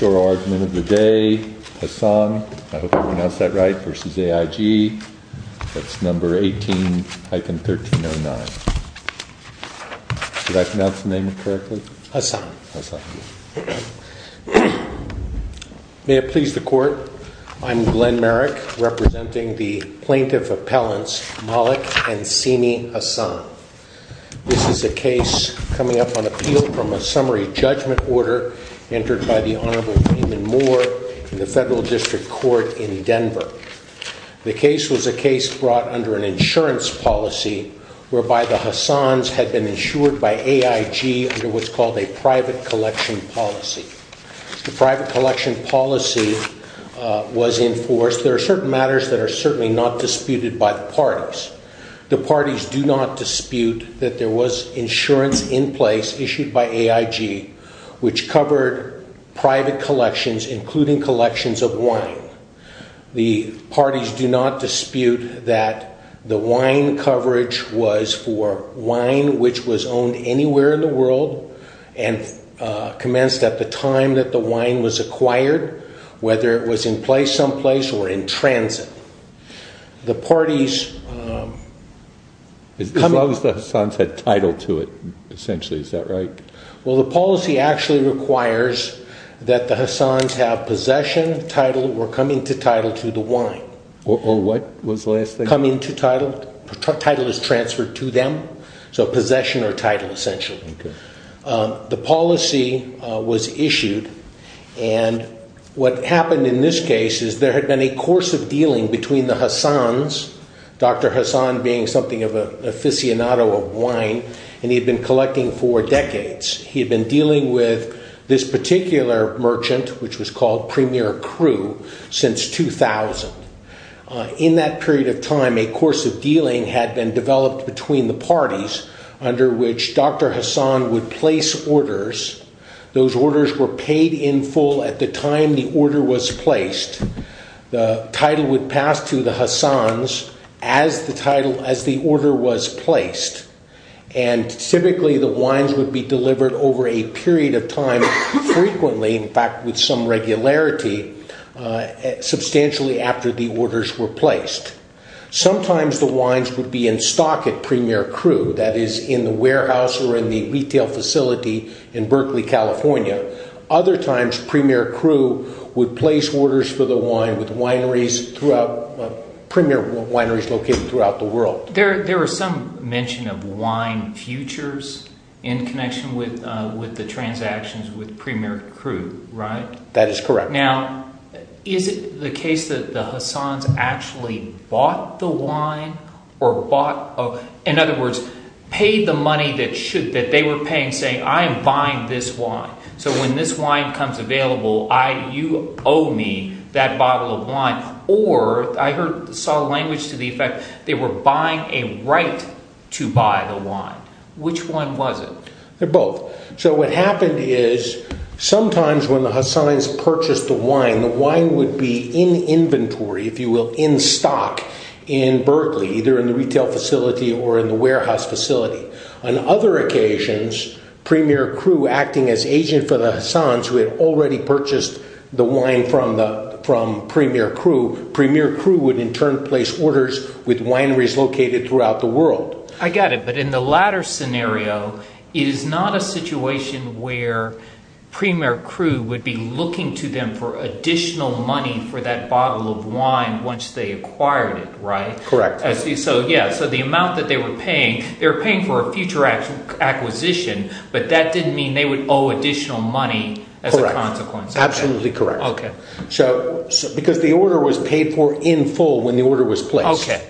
Your argument of the day, Hassan, I hope I pronounced that right, versus AIG, that's number 18-1309. Did I pronounce the name correctly? Hassan. May it please the Court, I'm Glenn Merrick, representing the Plaintiff Appellants Mollick and Sini Hassan. This is a case coming up on appeal from a summary judgment order entered by the Honorable Damon Moore in the Federal District Court in Denver. The case was a case brought under an insurance policy whereby the Hassans had been insured by AIG under what's called a private collection policy. The private collection policy was enforced. There are certain matters that are certainly not disputed by the parties. The parties do not dispute that there was insurance in place issued by AIG which covered private collections, including collections of wine. The parties do not dispute that the wine coverage was for wine which was owned anywhere in the world and commenced at the time that the wine was acquired, whether it was in place someplace or in transit. As long as the Hassans had title to it, essentially, is that right? Well, the policy actually requires that the Hassans have possession, title, or coming to title to the wine. Or what was the last thing? Coming to title. Title is transferred to them. So possession or title, essentially. The policy was issued and what happened in this case is there had been a course of dealing between the Hassans, Dr. Hassan being something of an aficionado of wine, and he had been collecting for decades. He had been dealing with this particular merchant, which was called Premier Cru, since 2000. In that period of time, a course of dealing had been developed between the parties under which Dr. Hassan would place orders. Those orders were paid in full at the time the order was placed. The title would pass to the Hassans as the order was placed. Typically, the wines would be delivered over a period of time, frequently, in fact, with some regularity, substantially after the orders were placed. Sometimes the wines would be in stock at Premier Cru, that is, in the warehouse or in the retail facility in Berkeley, California. Other times, Premier Cru would place orders for the wine with premier wineries located throughout the world. There was some mention of wine futures in connection with the transactions with Premier Cru, right? That is correct. Now, is it the case that the Hassans actually bought the wine or bought – in other words, paid the money that they were paying saying, I am buying this wine, so when this wine becomes available, you owe me that bottle of wine. Or I saw language to the effect they were buying a right to buy the wine. Which one was it? They're both. So what happened is sometimes when the Hassans purchased the wine, the wine would be in inventory, if you will, in stock in Berkeley, either in the retail facility or in the warehouse facility. On other occasions, Premier Cru, acting as agent for the Hassans who had already purchased the wine from Premier Cru, Premier Cru would in turn place orders with wineries located throughout the world. I got it. But in the latter scenario, it is not a situation where Premier Cru would be looking to them for additional money for that bottle of wine once they acquired it, right? Correct. So the amount that they were paying, they were paying for a future acquisition, but that didn't mean they would owe additional money as a consequence. Correct. Absolutely correct. Okay. Because the order was paid for in full when the order was placed. Okay.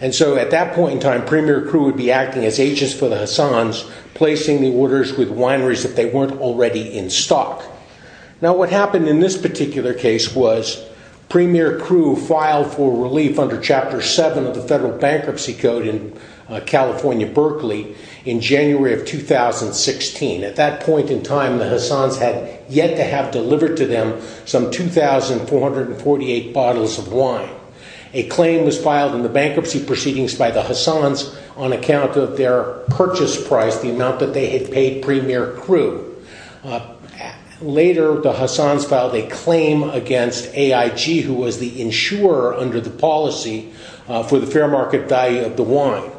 And so at that point in time, Premier Cru would be acting as agents for the Hassans, placing the orders with wineries if they weren't already in stock. Now, what happened in this particular case was Premier Cru filed for relief under Chapter 7 of the Federal Bankruptcy Code in California, Berkeley, in January of 2016. At that point in time, the Hassans had yet to have delivered to them some 2,448 bottles of wine. A claim was filed in the bankruptcy proceedings by the Hassans on account of their purchase price, the amount that they had paid Premier Cru. Later, the Hassans filed a claim against AIG, who was the insurer under the policy for the fair market value of the wine.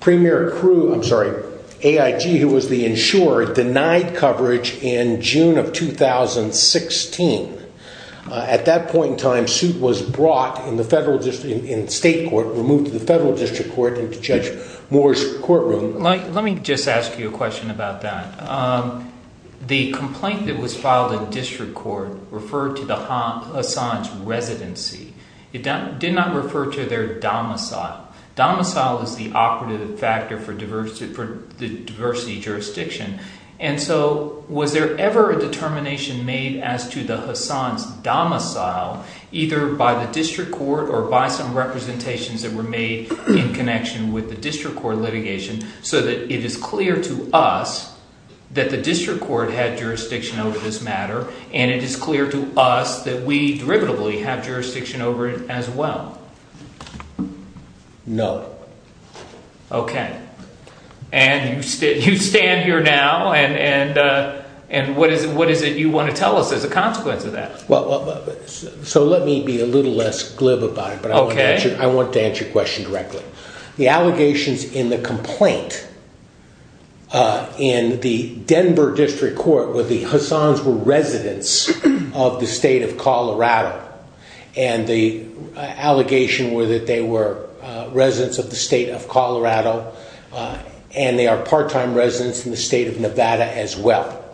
Premier Cru – I'm sorry, AIG, who was the insurer, denied coverage in June of 2016. At that point in time, suit was brought in the federal – in state court, removed to the federal district court and to Judge Moore's courtroom. So let me just ask you a question about that. The complaint that was filed in district court referred to the Hassans' residency. It did not refer to their domicile. Domicile is the operative factor for the diversity jurisdiction. And so was there ever a determination made as to the Hassans' domicile either by the district court or by some representations that were made in connection with the district court litigation so that it is clear to us that the district court had jurisdiction over this matter and it is clear to us that we derivatives have jurisdiction over it as well? No. Okay. And you stand here now and what is it you want to tell us as a consequence of that? So let me be a little less glib about it, but I want to answer your question directly. The allegations in the complaint in the Denver district court were the Hassans were residents of the state of Colorado. And the allegation were that they were residents of the state of Colorado and they are part-time residents in the state of Nevada as well.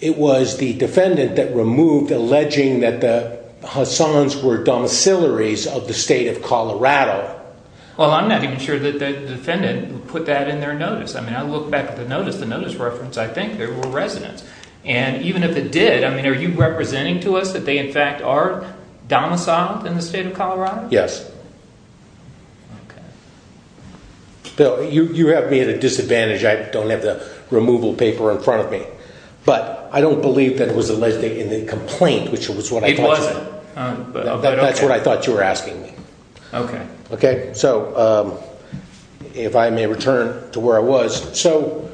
It was the defendant that removed alleging that the Hassans were domicilaries of the state of Colorado. Well, I'm not even sure that the defendant put that in their notice. I mean, I look back at the notice, the notice reference, I think they were residents. And even if it did, I mean, are you representing to us that they in fact are domiciled in the state of Colorado? Yes. Okay. Bill, you have me at a disadvantage. I don't have the removal paper in front of me, but I don't believe that was alleged in the complaint, which was what I thought. It wasn't. That's what I thought you were asking me. Okay. Okay. So if I may return to where I was. So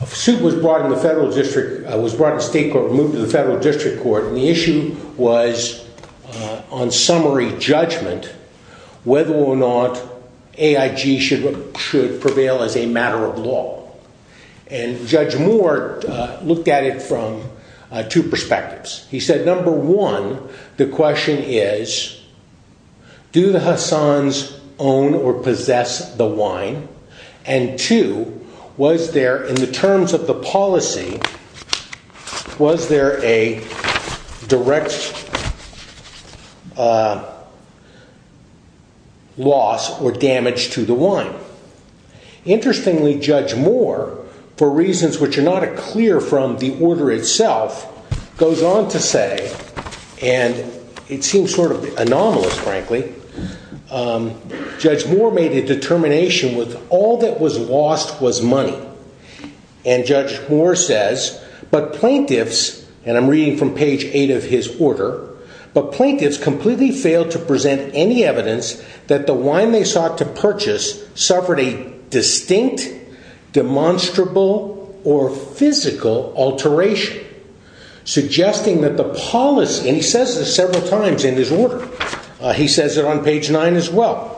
a suit was brought in the federal district, was brought to state court, moved to the federal district court, and the issue was on summary judgment whether or not AIG should prevail as a matter of law. And Judge Moore looked at it from two perspectives. He said, number one, the question is, do the Hassans own or possess the wine? And two, was there, in the terms of the policy, was there a direct loss or damage to the wine? Interestingly, Judge Moore, for reasons which are not clear from the order itself, goes on to say, and it seems sort of anomalous, frankly, Judge Moore made a determination with all that was lost was money. And Judge Moore says, but plaintiffs, and I'm reading from page eight of his order, but plaintiffs completely failed to present any evidence that the wine they sought to purchase suffered a distinct, demonstrable, or physical alteration, suggesting that the policy, and he says this several times in his order, he says it on page nine as well.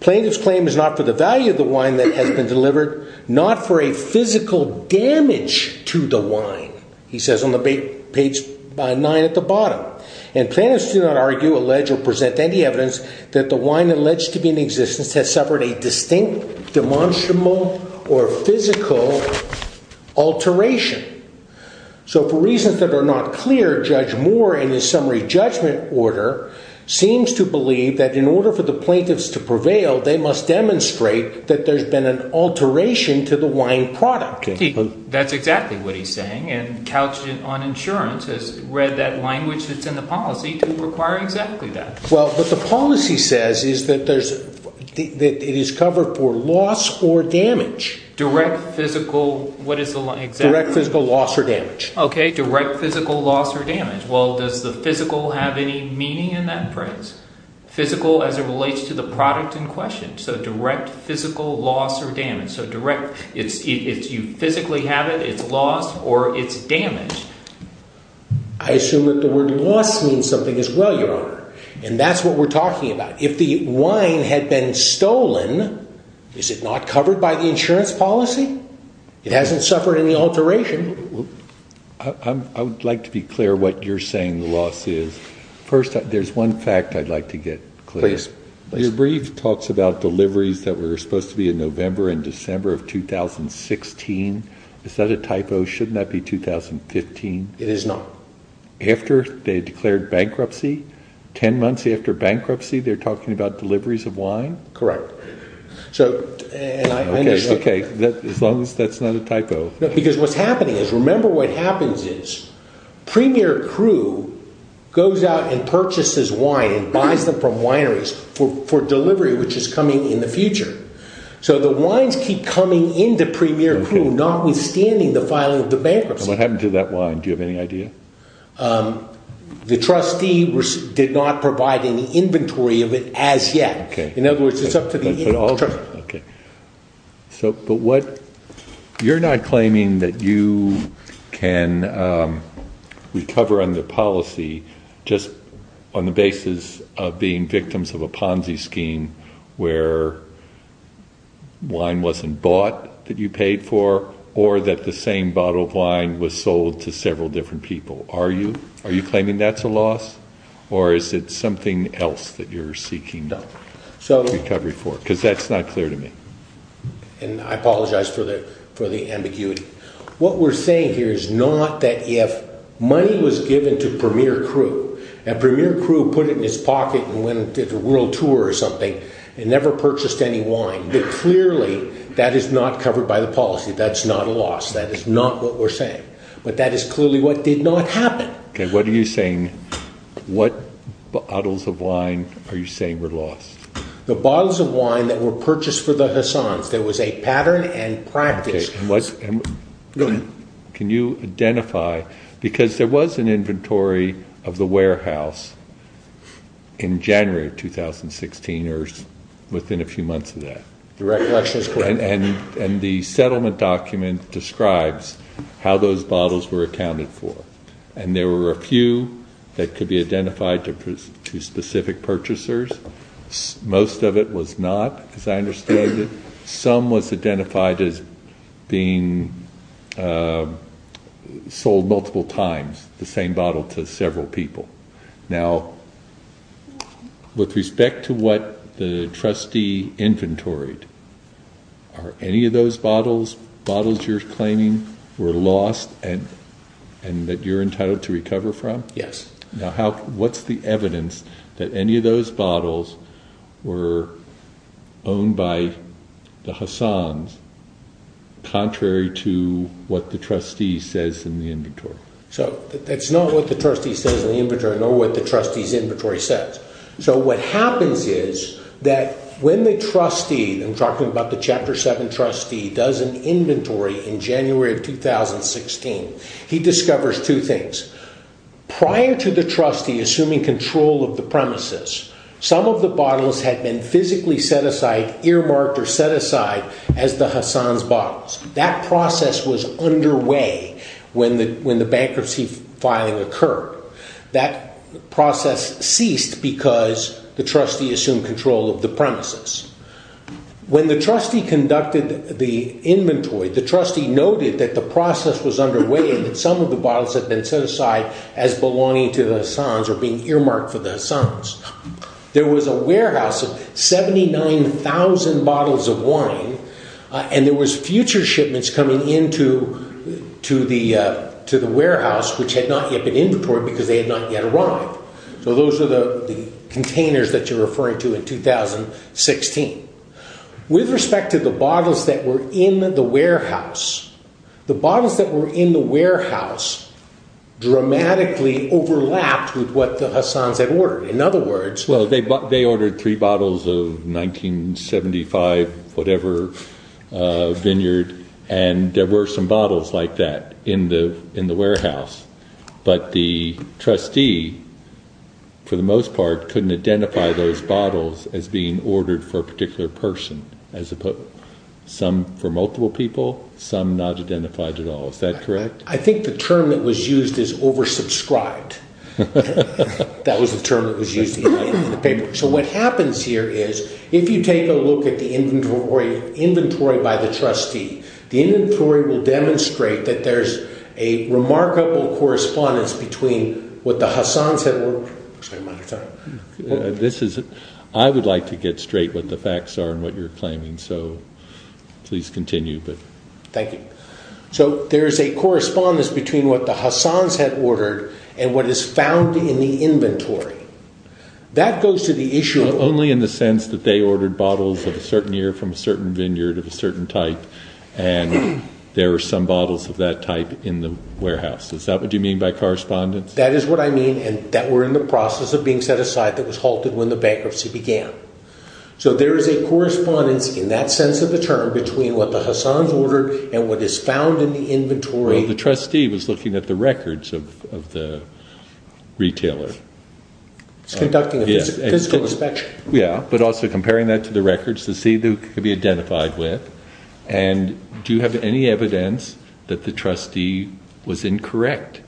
Plaintiff's claim is not for the value of the wine that has been delivered, not for a physical damage to the wine, he says on page nine at the bottom. And plaintiffs do not argue, allege, or present any evidence that the wine alleged to be in existence has suffered a distinct, demonstrable, or physical alteration. So, for reasons that are not clear, Judge Moore, in his summary judgment order, seems to believe that in order for the plaintiffs to prevail, they must demonstrate that there's been an alteration to the wine product. That's exactly what he's saying, and Couch on Insurance has read that language that's in the policy to require exactly that. Well, what the policy says is that it is covered for loss or damage. Direct physical, what is the, exactly? Direct physical loss or damage. Okay, direct physical loss or damage. Well, does the physical have any meaning in that phrase? Physical as it relates to the product in question, so direct physical loss or damage, so direct, it's, it's, you physically have it, it's lost, or it's damaged. I assume that the word loss means something as well, Your Honor, and that's what we're talking about. Now, if the wine had been stolen, is it not covered by the insurance policy? It hasn't suffered any alteration. I would like to be clear what you're saying the loss is. First, there's one fact I'd like to get clear. Please, please. Your brief talks about deliveries that were supposed to be in November and December of 2016. Is that a typo? Shouldn't that be 2015? It is not. After they declared bankruptcy, 10 months after bankruptcy, they're talking about deliveries of wine? Correct. So, and I understand. Okay, as long as that's not a typo. Because what's happening is, remember what happens is, Premier Crew goes out and purchases wine and buys them from wineries for delivery, which is coming in the future. So the wines keep coming into Premier Crew, notwithstanding the filing of the bankruptcy. What happened to that wine? Do you have any idea? The trustee did not provide any inventory of it as yet. In other words, it's up to the trustee. So, but what, you're not claiming that you can recover on the policy just on the basis of being victims of a Ponzi scheme where wine wasn't bought that you paid for, or that the same bottle of wine was sold to several different people. Are you? Are you claiming that's a loss? Or is it something else that you're seeking recovery for? Because that's not clear to me. And I apologize for the ambiguity. What we're saying here is not that if money was given to Premier Crew, and Premier Crew put it in his pocket and went on a world tour or something, and never purchased any wine, that clearly that is not covered by the policy. That's not a loss. That is not what we're saying. But that is clearly what did not happen. Okay, what are you saying, what bottles of wine are you saying were lost? The bottles of wine that were purchased for the Hassans. There was a pattern and practice. Can you identify, because there was an inventory of the warehouse in January of 2016 or within a few months of that. The recollection is correct. And the settlement document describes how those bottles were accounted for. And there were a few that could be identified to specific purchasers. Most of it was not, as I understood it. Some was identified as being sold multiple times, the same bottle to several people. Now, with respect to what the trustee inventoried, are any of those bottles, bottles you're claiming were lost and that you're entitled to recover from? Yes. Now, what's the evidence that any of those bottles were owned by the Hassans, contrary to what the trustee says in the inventory? So, that's not what the trustee says in the inventory, nor what the trustee's inventory says. So, what happens is that when the trustee, I'm talking about the Chapter 7 trustee, does an inventory in January of 2016, he discovers two things. Prior to the trustee assuming control of the premises, some of the bottles had been physically set aside, earmarked or set aside as the Hassans' bottles. That process was underway when the bankruptcy filing occurred. That process ceased because the trustee assumed control of the premises. When the trustee conducted the inventory, the trustee noted that the process was underway and that some of the bottles had been set aside as belonging to the Hassans or being earmarked for the Hassans. There was a warehouse of 79,000 bottles of wine and there was future shipments coming into the warehouse which had not yet been inventoried because they had not yet arrived. So, those are the containers that you're referring to in 2016. With respect to the bottles that were in the warehouse, the bottles that were in the warehouse dramatically overlapped with what the Hassans had ordered. They ordered three bottles of 1975 whatever vineyard and there were some bottles like that in the warehouse. But the trustee, for the most part, couldn't identify those bottles as being ordered for a particular person. Some for multiple people, some not identified at all. Is that correct? I think the term that was used is oversubscribed. That was the term that was used in the paper. So, what happens here is if you take a look at the inventory by the trustee, the inventory will demonstrate that there's a remarkable correspondence between what the Hassans had ordered. I would like to get straight what the facts are and what you're claiming, so please continue. Thank you. So, there's a correspondence between what the Hassans had ordered and what is found in the inventory. That goes to the issue… Only in the sense that they ordered bottles of a certain year from a certain vineyard of a certain type and there were some bottles of that type in the warehouse. Is that what you mean by correspondence? That is what I mean and that were in the process of being set aside that was halted when the bankruptcy began. So, there is a correspondence in that sense of the term between what the Hassans ordered and what is found in the inventory. Well, the trustee was looking at the records of the retailer. Conducting a physical inspection. Yeah, but also comparing that to the records to see who could be identified with. And do you have any evidence that the trustee was incorrect?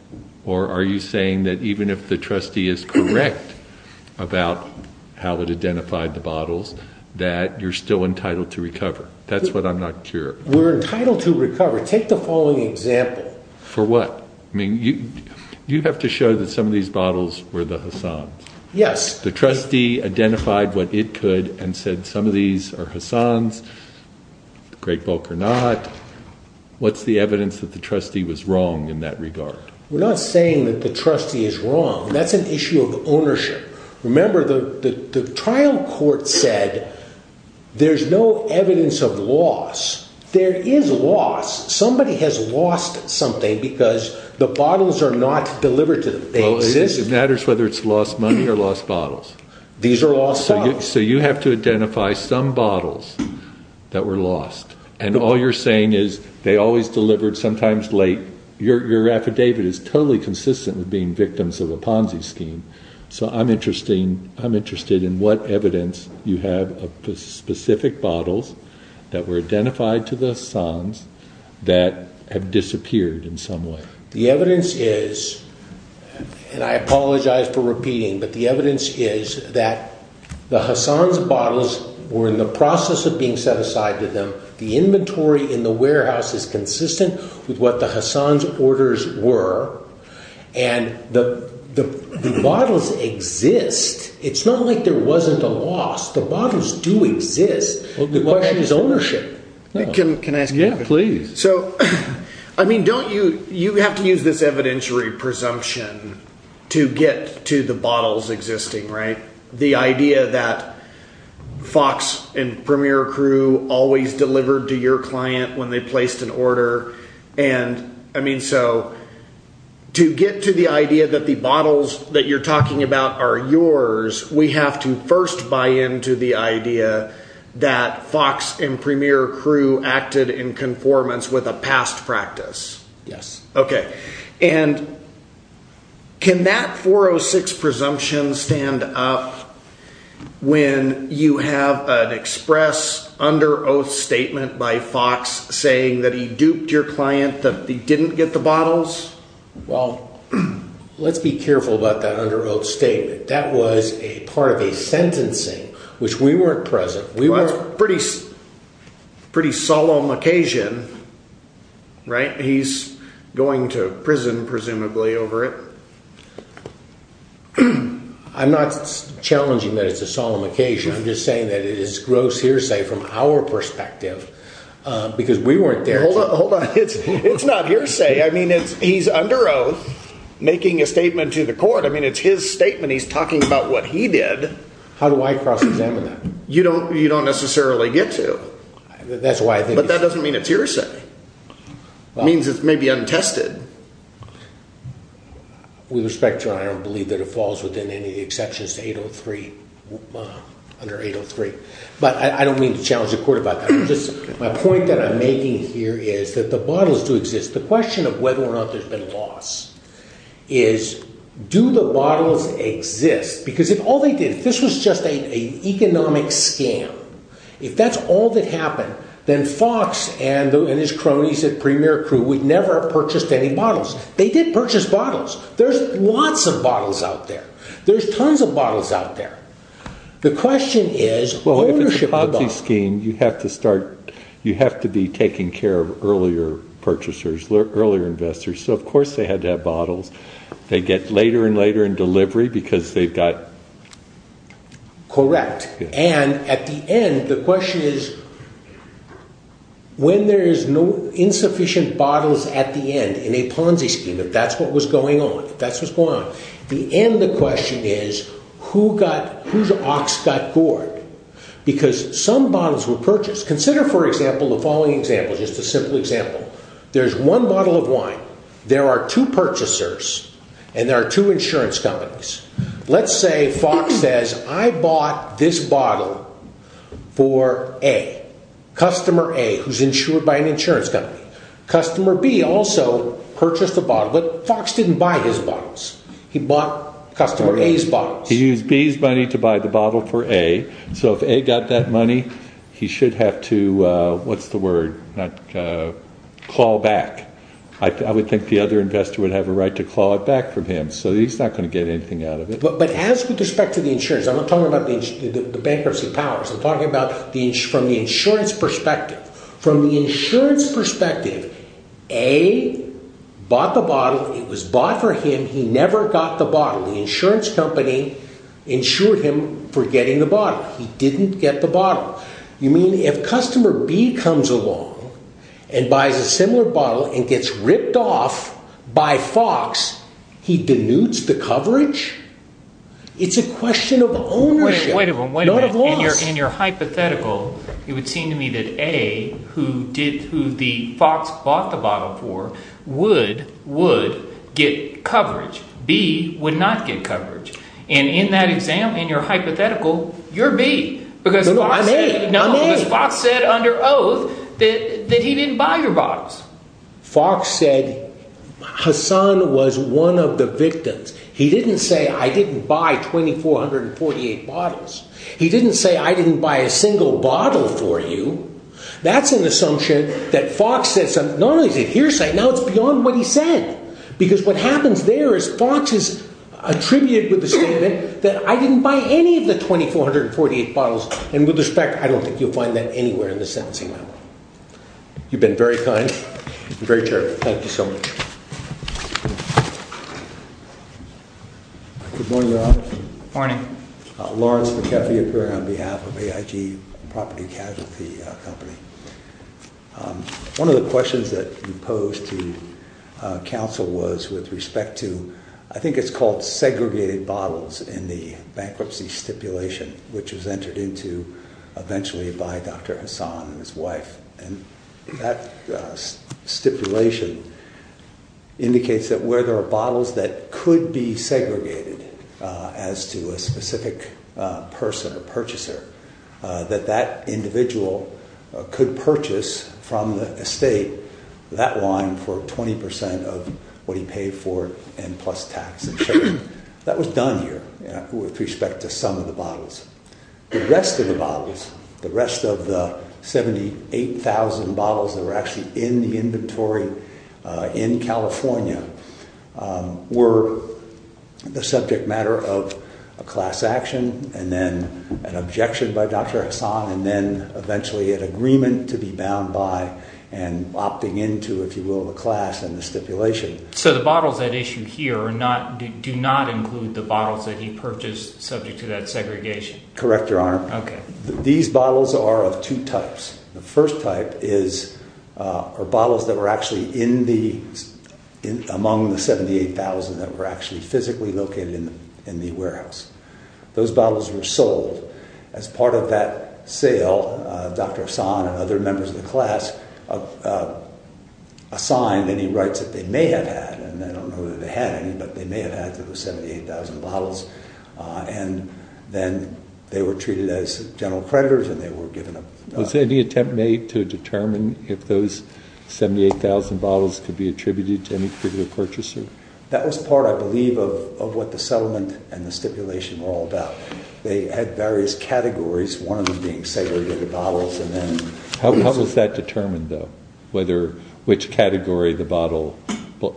Or are you saying that even if the trustee is correct about how it identified the bottles, that you're still entitled to recover? That's what I'm not sure. We're entitled to recover. Take the following example. For what? I mean, you have to show that some of these bottles were the Hassans. Yes. The trustee identified what it could and said some of these are Hassans. The great bulk are not. What's the evidence that the trustee was wrong in that regard? We're not saying that the trustee is wrong. That's an issue of ownership. Remember, the trial court said there's no evidence of loss. There is loss. Somebody has lost something because the bottles are not delivered to them. They exist. Well, it matters whether it's lost money or lost bottles. These are lost bottles. So you have to identify some bottles that were lost. And all you're saying is they always delivered sometimes late. Your affidavit is totally consistent with being victims of a Ponzi scheme. So I'm interested in what evidence you have of specific bottles that were identified to the Hassans that have disappeared in some way. The evidence is, and I apologize for repeating, but the evidence is that the Hassans' bottles were in the process of being set aside to them. The inventory in the warehouse is consistent with what the Hassans' orders were. And the bottles exist. It's not like there wasn't a loss. The bottles do exist. The question is ownership. Can I ask you a question? Yeah, please. So, I mean, don't you have to use this evidentiary presumption to get to the bottles existing, right? The idea that Fox and Premier Crew always delivered to your client when they placed an order. I mean, so to get to the idea that the bottles that you're talking about are yours, we have to first buy into the idea that Fox and Premier Crew acted in conformance with a past practice. Yes. Okay. And can that 406 presumption stand up when you have an express under oath statement by Fox saying that he duped your client, that he didn't get the bottles? Well, let's be careful about that under oath statement. That was a part of a sentencing, which we weren't present. Well, it's a pretty solemn occasion, right? He's going to prison, presumably, over it. I'm not challenging that it's a solemn occasion. I'm just saying that it is gross hearsay from our perspective because we weren't there. Hold on. Hold on. It's not hearsay. I mean, he's under oath making a statement to the court. I mean, it's his statement. He's talking about what he did. How do I cross examine that? You don't necessarily get to. But that doesn't mean it's hearsay. It means it's maybe untested. With respect to that, I don't believe that it falls within any of the exceptions to 803, under 803. But I don't mean to challenge the court about that. My point that I'm making here is that the bottles do exist. The question of whether or not there's been loss is do the bottles exist? Because if all they did, if this was just an economic scam, if that's all that happened, then Fox and his cronies at Premier Crew would never have purchased any bottles. They did purchase bottles. There's lots of bottles out there. There's tons of bottles out there. The question is ownership of the bottles. Well, if it's a proxy scheme, you have to be taking care of earlier purchasers, earlier investors. So, of course, they had to have bottles. They get later and later in delivery because they've got... Correct. And at the end, the question is when there is insufficient bottles at the end in a Ponzi scheme, if that's what was going on, if that's what's going on, at the end the question is whose ox got gored? Because some bottles were purchased. Consider, for example, the following example, just a simple example. There's one bottle of wine. There are two purchasers and there are two insurance companies. Let's say Fox says, I bought this bottle for A, customer A, who's insured by an insurance company. Customer B also purchased the bottle, but Fox didn't buy his bottles. He bought customer A's bottles. He used B's money to buy the bottle for A. So if A got that money, he should have to, what's the word, call back. I would think the other investor would have a right to call it back from him. So he's not going to get anything out of it. But as with respect to the insurance, I'm not talking about the bankruptcy powers. I'm talking about from the insurance perspective. From the insurance perspective, A bought the bottle. It was bought for him. He never got the bottle. The insurance company insured him for getting the bottle. He didn't get the bottle. You mean if customer B comes along and buys a similar bottle and gets ripped off by Fox, he denudes the coverage? It's a question of ownership. Wait a minute. In your hypothetical, it would seem to me that A, who Fox bought the bottle for, would get coverage. B would not get coverage. And in that example, in your hypothetical, you're B. No, I'm A. Because Fox said under oath that he didn't buy your bottles. Fox said Hassan was one of the victims. He didn't say, I didn't buy 2448 bottles. He didn't say, I didn't buy a single bottle for you. That's an assumption that Fox said. Now it's beyond what he said. Because what happens there is Fox is attributed with the statement that I didn't buy any of the 2448 bottles. And with respect, I don't think you'll find that anywhere in the sentencing memo. You've been very kind and very charitable. Thank you so much. Good morning, Your Honor. Morning. Lawrence McAfee, appearing on behalf of AIG Property Casualty Company. One of the questions that you posed to counsel was with respect to, I think it's called segregated bottles in the bankruptcy stipulation, which was entered into eventually by Dr. Hassan and his wife. And that stipulation indicates that where there are bottles that could be segregated as to a specific person or purchaser, that that individual could purchase from the estate that wine for 20% of what he paid for and plus tax. That was done here with respect to some of the bottles. The rest of the bottles, the rest of the 78,000 bottles that were actually in the inventory in California, were the subject matter of a class action and then an objection by Dr. Hassan and then eventually an agreement to be bound by and opting into, if you will, the class and the stipulation. So the bottles at issue here do not include the bottles that he purchased subject to that segregation? Correct, Your Honor. Okay. These bottles are of two types. The first type are bottles that were actually among the 78,000 that were actually physically located in the warehouse. Those bottles were sold. As part of that sale, Dr. Hassan and other members of the class assigned any rights that they may have had, and I don't know that they had any, but they may have had to those 78,000 bottles. And then they were treated as general creditors and they were given a… Was any attempt made to determine if those 78,000 bottles could be attributed to any particular purchaser? That was part, I believe, of what the settlement and the stipulation were all about. They had various categories, one of them being segregated bottles. How was that determined, though, which category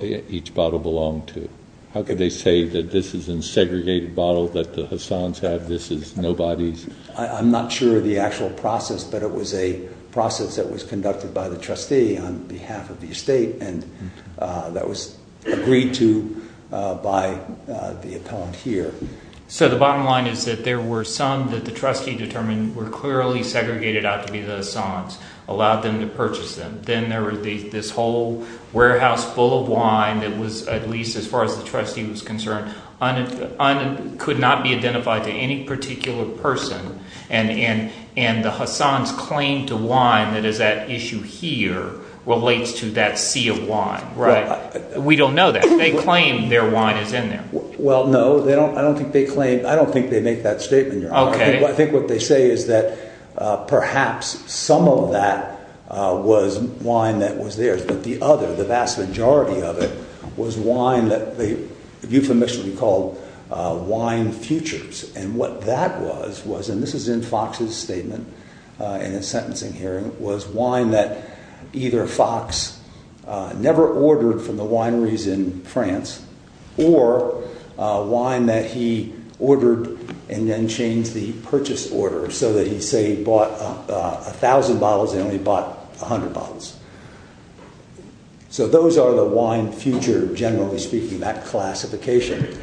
each bottle belonged to? How could they say that this is a segregated bottle that the Hassans have, this is nobody's? I'm not sure of the actual process, but it was a process that was conducted by the trustee on behalf of the estate and that was agreed to by the appellant here. So the bottom line is that there were some that the trustee determined were clearly segregated out to be the Hassans, allowed them to purchase them. Then there was this whole warehouse full of wine that was, at least as far as the trustee was concerned, could not be identified to any particular person, and the Hassans' claim to wine that is at issue here relates to that sea of wine, right? We don't know that. They claim their wine is in there. Well, no, I don't think they make that statement, Your Honor. I think what they say is that perhaps some of that was wine that was theirs, but the other, the vast majority of it, was wine that they euphemistically called wine futures. And what that was, and this is in Fox's statement in his sentencing hearing, was wine that either Fox never ordered from the wineries in France or wine that he ordered and then changed the purchase order so that he, say, bought 1,000 bottles and only bought 100 bottles. So those are the wine future, generally speaking, that classification.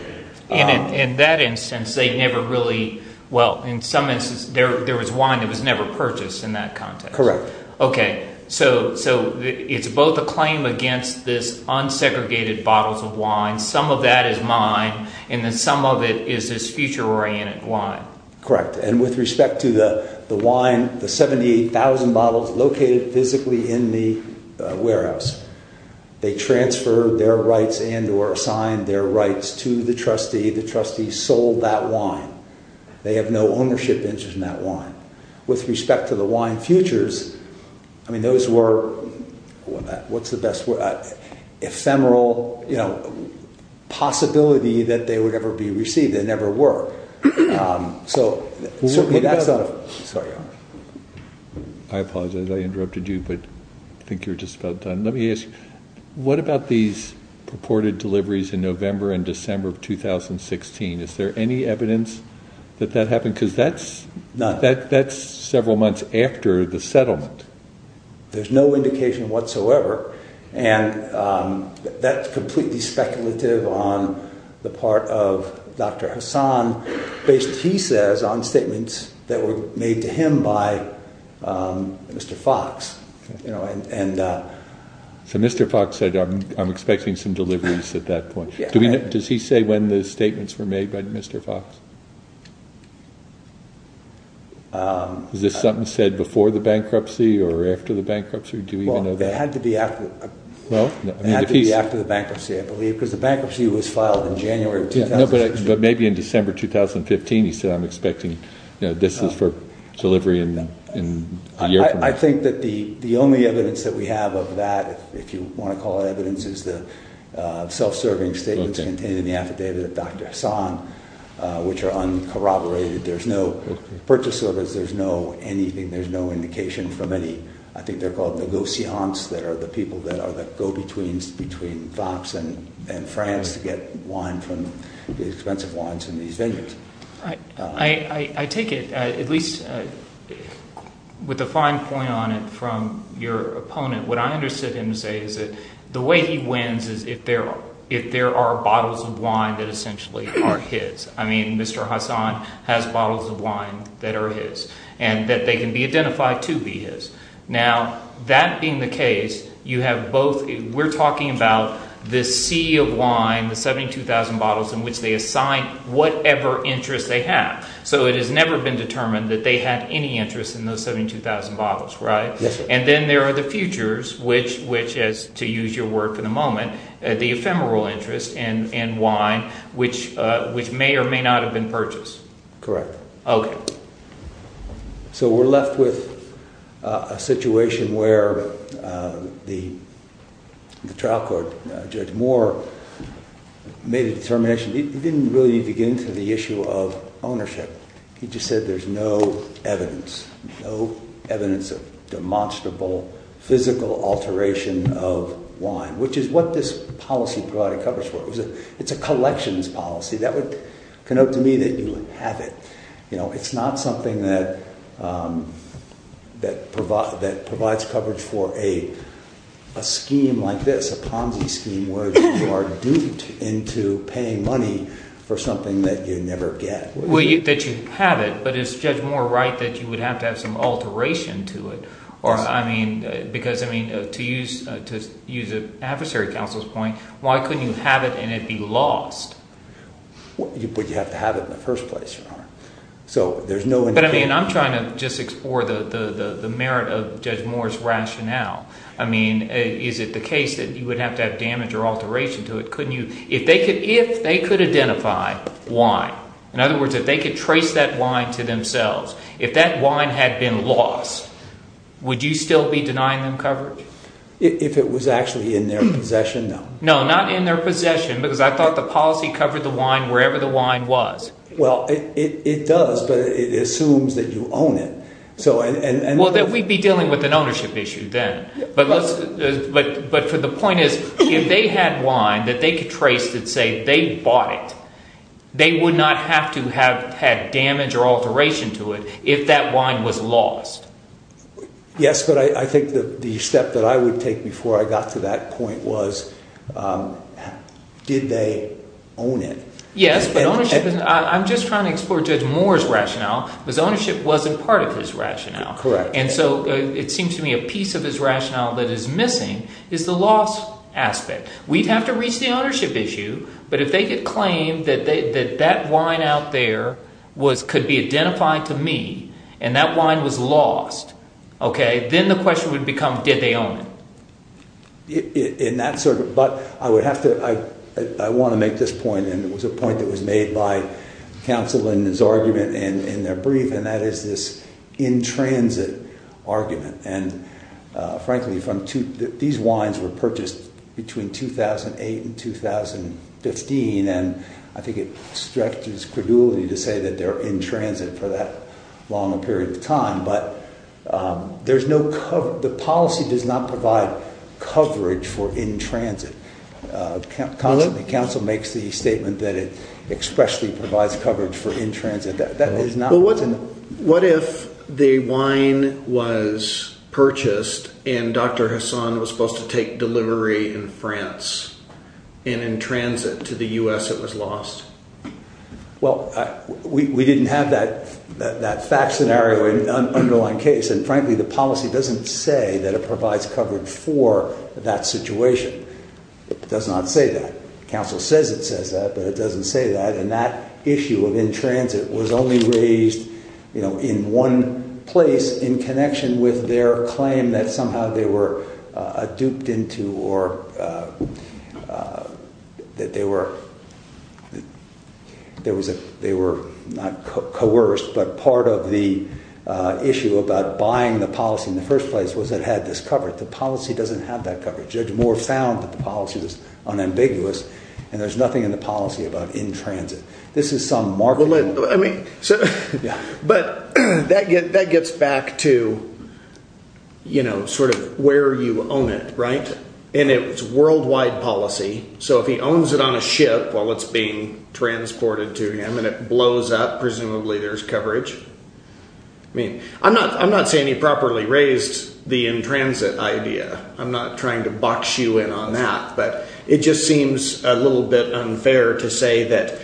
In that instance, they never really, well, in some instances, there was wine that was never purchased in that context. Correct. Okay, so it's both a claim against this unsegregated bottles of wine, some of that is mine, and then some of it is this future-oriented wine. Correct, and with respect to the wine, the 78,000 bottles located physically in the warehouse, they transferred their rights and or assigned their rights to the trustee. The trustee sold that wine. They have no ownership interest in that wine. With respect to the wine futures, I mean, those were, what's the best word? Ephemeral, you know, possibility that they would ever be received. They never were. I apologize, I interrupted you, but I think you're just about done. Let me ask you, what about these purported deliveries in November and December of 2016? Is there any evidence that that happened? Because that's several months after the settlement. There's no indication whatsoever, and that's completely speculative on the part of Dr. Hassan based, he says, on statements that were made to him by Mr. Fox. So Mr. Fox said, I'm expecting some deliveries at that point. Does he say when the statements were made by Mr. Fox? Is this something said before the bankruptcy or after the bankruptcy? Do we even know that? It had to be after the bankruptcy, I believe, because the bankruptcy was filed in January of 2016. But maybe in December 2015 he said, I'm expecting, this is for delivery in a year from now. I think that the only evidence that we have of that, if you want to call it evidence, is the self-serving statements contained in the affidavit of Dr. Hassan, which are uncorroborated. There's no purchase orders. There's no anything. There's no indication from any, I think they're called negotiations, that are the people that are the go-betweens between Fox and France to get wine from, expensive wines from these vineyards. I take it, at least with a fine point on it from your opponent, what I understood him to say is that the way he wins is if there are bottles of wine that essentially are his. I mean Mr. Hassan has bottles of wine that are his and that they can be identified to be his. Now, that being the case, you have both, we're talking about this sea of wine, the 72,000 bottles in which they assign whatever interest they have. So it has never been determined that they had any interest in those 72,000 bottles, right? And then there are the futures, which is, to use your word for the moment, the ephemeral interest in wine, which may or may not have been purchased. Correct. Okay. So we're left with a situation where the trial court, Judge Moore, made a determination. He didn't really begin to the issue of ownership. He just said there's no evidence, no evidence of demonstrable physical alteration of wine, which is what this policy provided coverage for. It's a collections policy. That would connote to me that you would have it. It's not something that provides coverage for a scheme like this, a Ponzi scheme, where you are duped into paying money for something that you never get. Well, that you have it, but is Judge Moore right that you would have to have some alteration to it? Yes. Because, I mean, to use an adversary counsel's point, why couldn't you have it and it be lost? But you have to have it in the first place, Your Honor. So there's no indication. But, I mean, I'm trying to just explore the merit of Judge Moore's rationale. I mean, is it the case that you would have to have damage or alteration to it? Couldn't you? If they could identify wine, in other words, if they could trace that wine to themselves, if that wine had been lost, would you still be denying them coverage? If it was actually in their possession, no. No, not in their possession, because I thought the policy covered the wine wherever the wine was. Well, it does, but it assumes that you own it. Well, then we'd be dealing with an ownership issue then. But the point is, if they had wine that they could trace to say they bought it, they would not have to have had damage or alteration to it if that wine was lost. Yes, but I think the step that I would take before I got to that point was, did they own it? Yes, but ownership, I'm just trying to explore Judge Moore's rationale, because ownership wasn't part of his rationale. Correct. And so it seems to me a piece of his rationale that is missing is the loss aspect. We'd have to reach the ownership issue, but if they could claim that that wine out there could be identified to me, and that wine was lost, then the question would become, did they own it? But I want to make this point, and it was a point that was made by counsel in his argument in their brief, and that is this in-transit argument. And frankly, these wines were purchased between 2008 and 2015, and I think it stretches credulity to say that they're in-transit for that long a period of time, but the policy does not provide coverage for in-transit. Counsel makes the statement that it expressly provides coverage for in-transit. Well, what if the wine was purchased and Dr. Hassan was supposed to take delivery in France, and in-transit to the U.S. it was lost? Well, we didn't have that fact scenario in the underlying case, and frankly the policy doesn't say that it provides coverage for that situation. It does not say that. Counsel says it says that, but it doesn't say that, and that issue of in-transit was only raised in one place in connection with their claim that somehow they were duped into or that they were not coerced, but part of the issue about buying the policy in the first place was it had this coverage. The policy doesn't have that coverage. Judge Moore found that the policy was unambiguous, and there's nothing in the policy about in-transit. This is some marketing. But that gets back to sort of where you own it, right? And it's worldwide policy, so if he owns it on a ship while it's being transported to him and it blows up, presumably there's coverage. I'm not saying he properly raised the in-transit idea. I'm not trying to box you in on that, but it just seems a little bit unfair to say that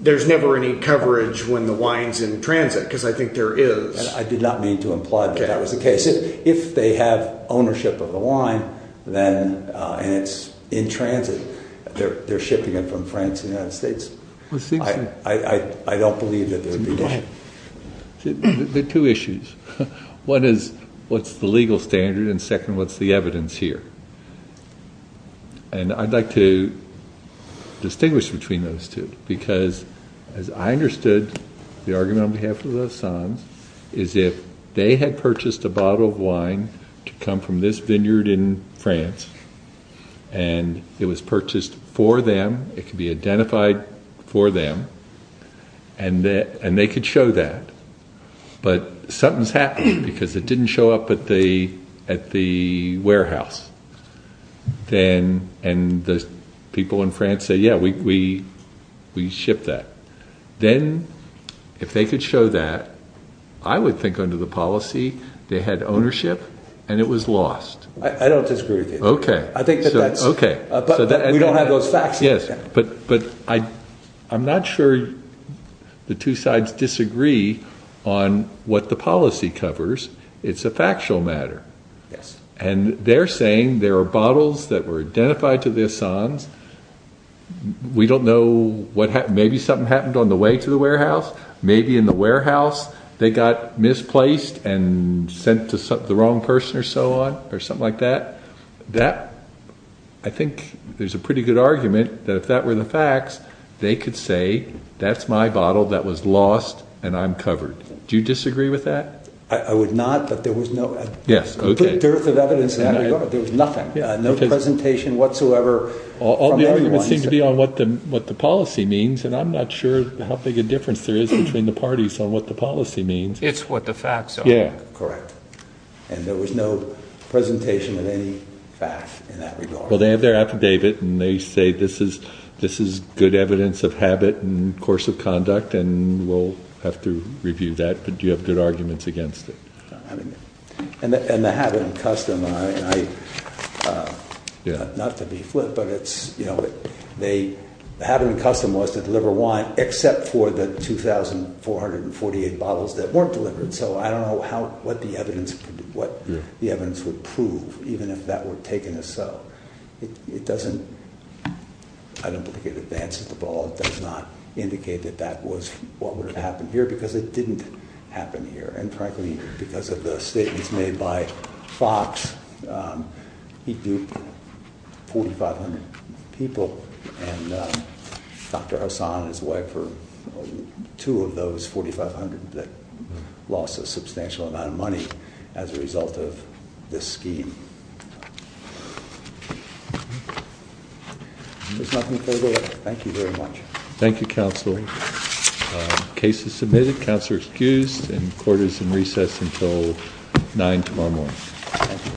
there's never any coverage when the wine's in transit because I think there is. I did not mean to imply that that was the case. If they have ownership of the wine and it's in transit, they're shipping it from France to the United States. I don't believe that there would be. There are two issues. One is what's the legal standard, and second, what's the evidence here? And I'd like to distinguish between those two because, as I understood, the argument on behalf of the Saens is if they had purchased a bottle of wine to come from this vineyard in France and it was purchased for them, it could be identified for them, and they could show that. But something's happened because it didn't show up at the warehouse, and the people in France say, yeah, we shipped that. Then if they could show that, I would think under the policy they had ownership and it was lost. I don't disagree with you. Okay. I think that that's – Okay. But we don't have those facts yet. Yes, but I'm not sure the two sides disagree on what the policy covers. It's a factual matter. Yes. And they're saying there are bottles that were identified to the Saens. We don't know what happened. Maybe something happened on the way to the warehouse. Maybe in the warehouse they got misplaced and sent to the wrong person or so on or something like that. I think there's a pretty good argument that if that were the facts, they could say that's my bottle that was lost and I'm covered. Do you disagree with that? I would not, but there was no – Yes. Okay. There was nothing, no presentation whatsoever. All the arguments seem to be on what the policy means, and I'm not sure how big a difference there is between the parties on what the policy means. It's what the facts are. Yeah. Correct. And there was no presentation of any fact in that regard. Well, they have their affidavit, and they say this is good evidence of habit and course of conduct, and we'll have to review that. But do you have good arguments against it? I mean, and the habit and custom, not to be flippant, but the habit and custom was to deliver wine except for the 2,448 bottles that weren't delivered. So I don't know what the evidence would prove, even if that were taken as so. It doesn't – I don't think it advances the ball. It does not indicate that that was what would have happened here because it didn't happen here. And frankly, because of the statements made by Fox, he duped 4,500 people, and Dr. Hassan and his wife were two of those 4,500 that lost a substantial amount of money as a result of this scheme. There's nothing further. Thank you very much. Thank you, Counsel. Case is submitted. Counsel is excused, and court is in recess until 9 tomorrow morning.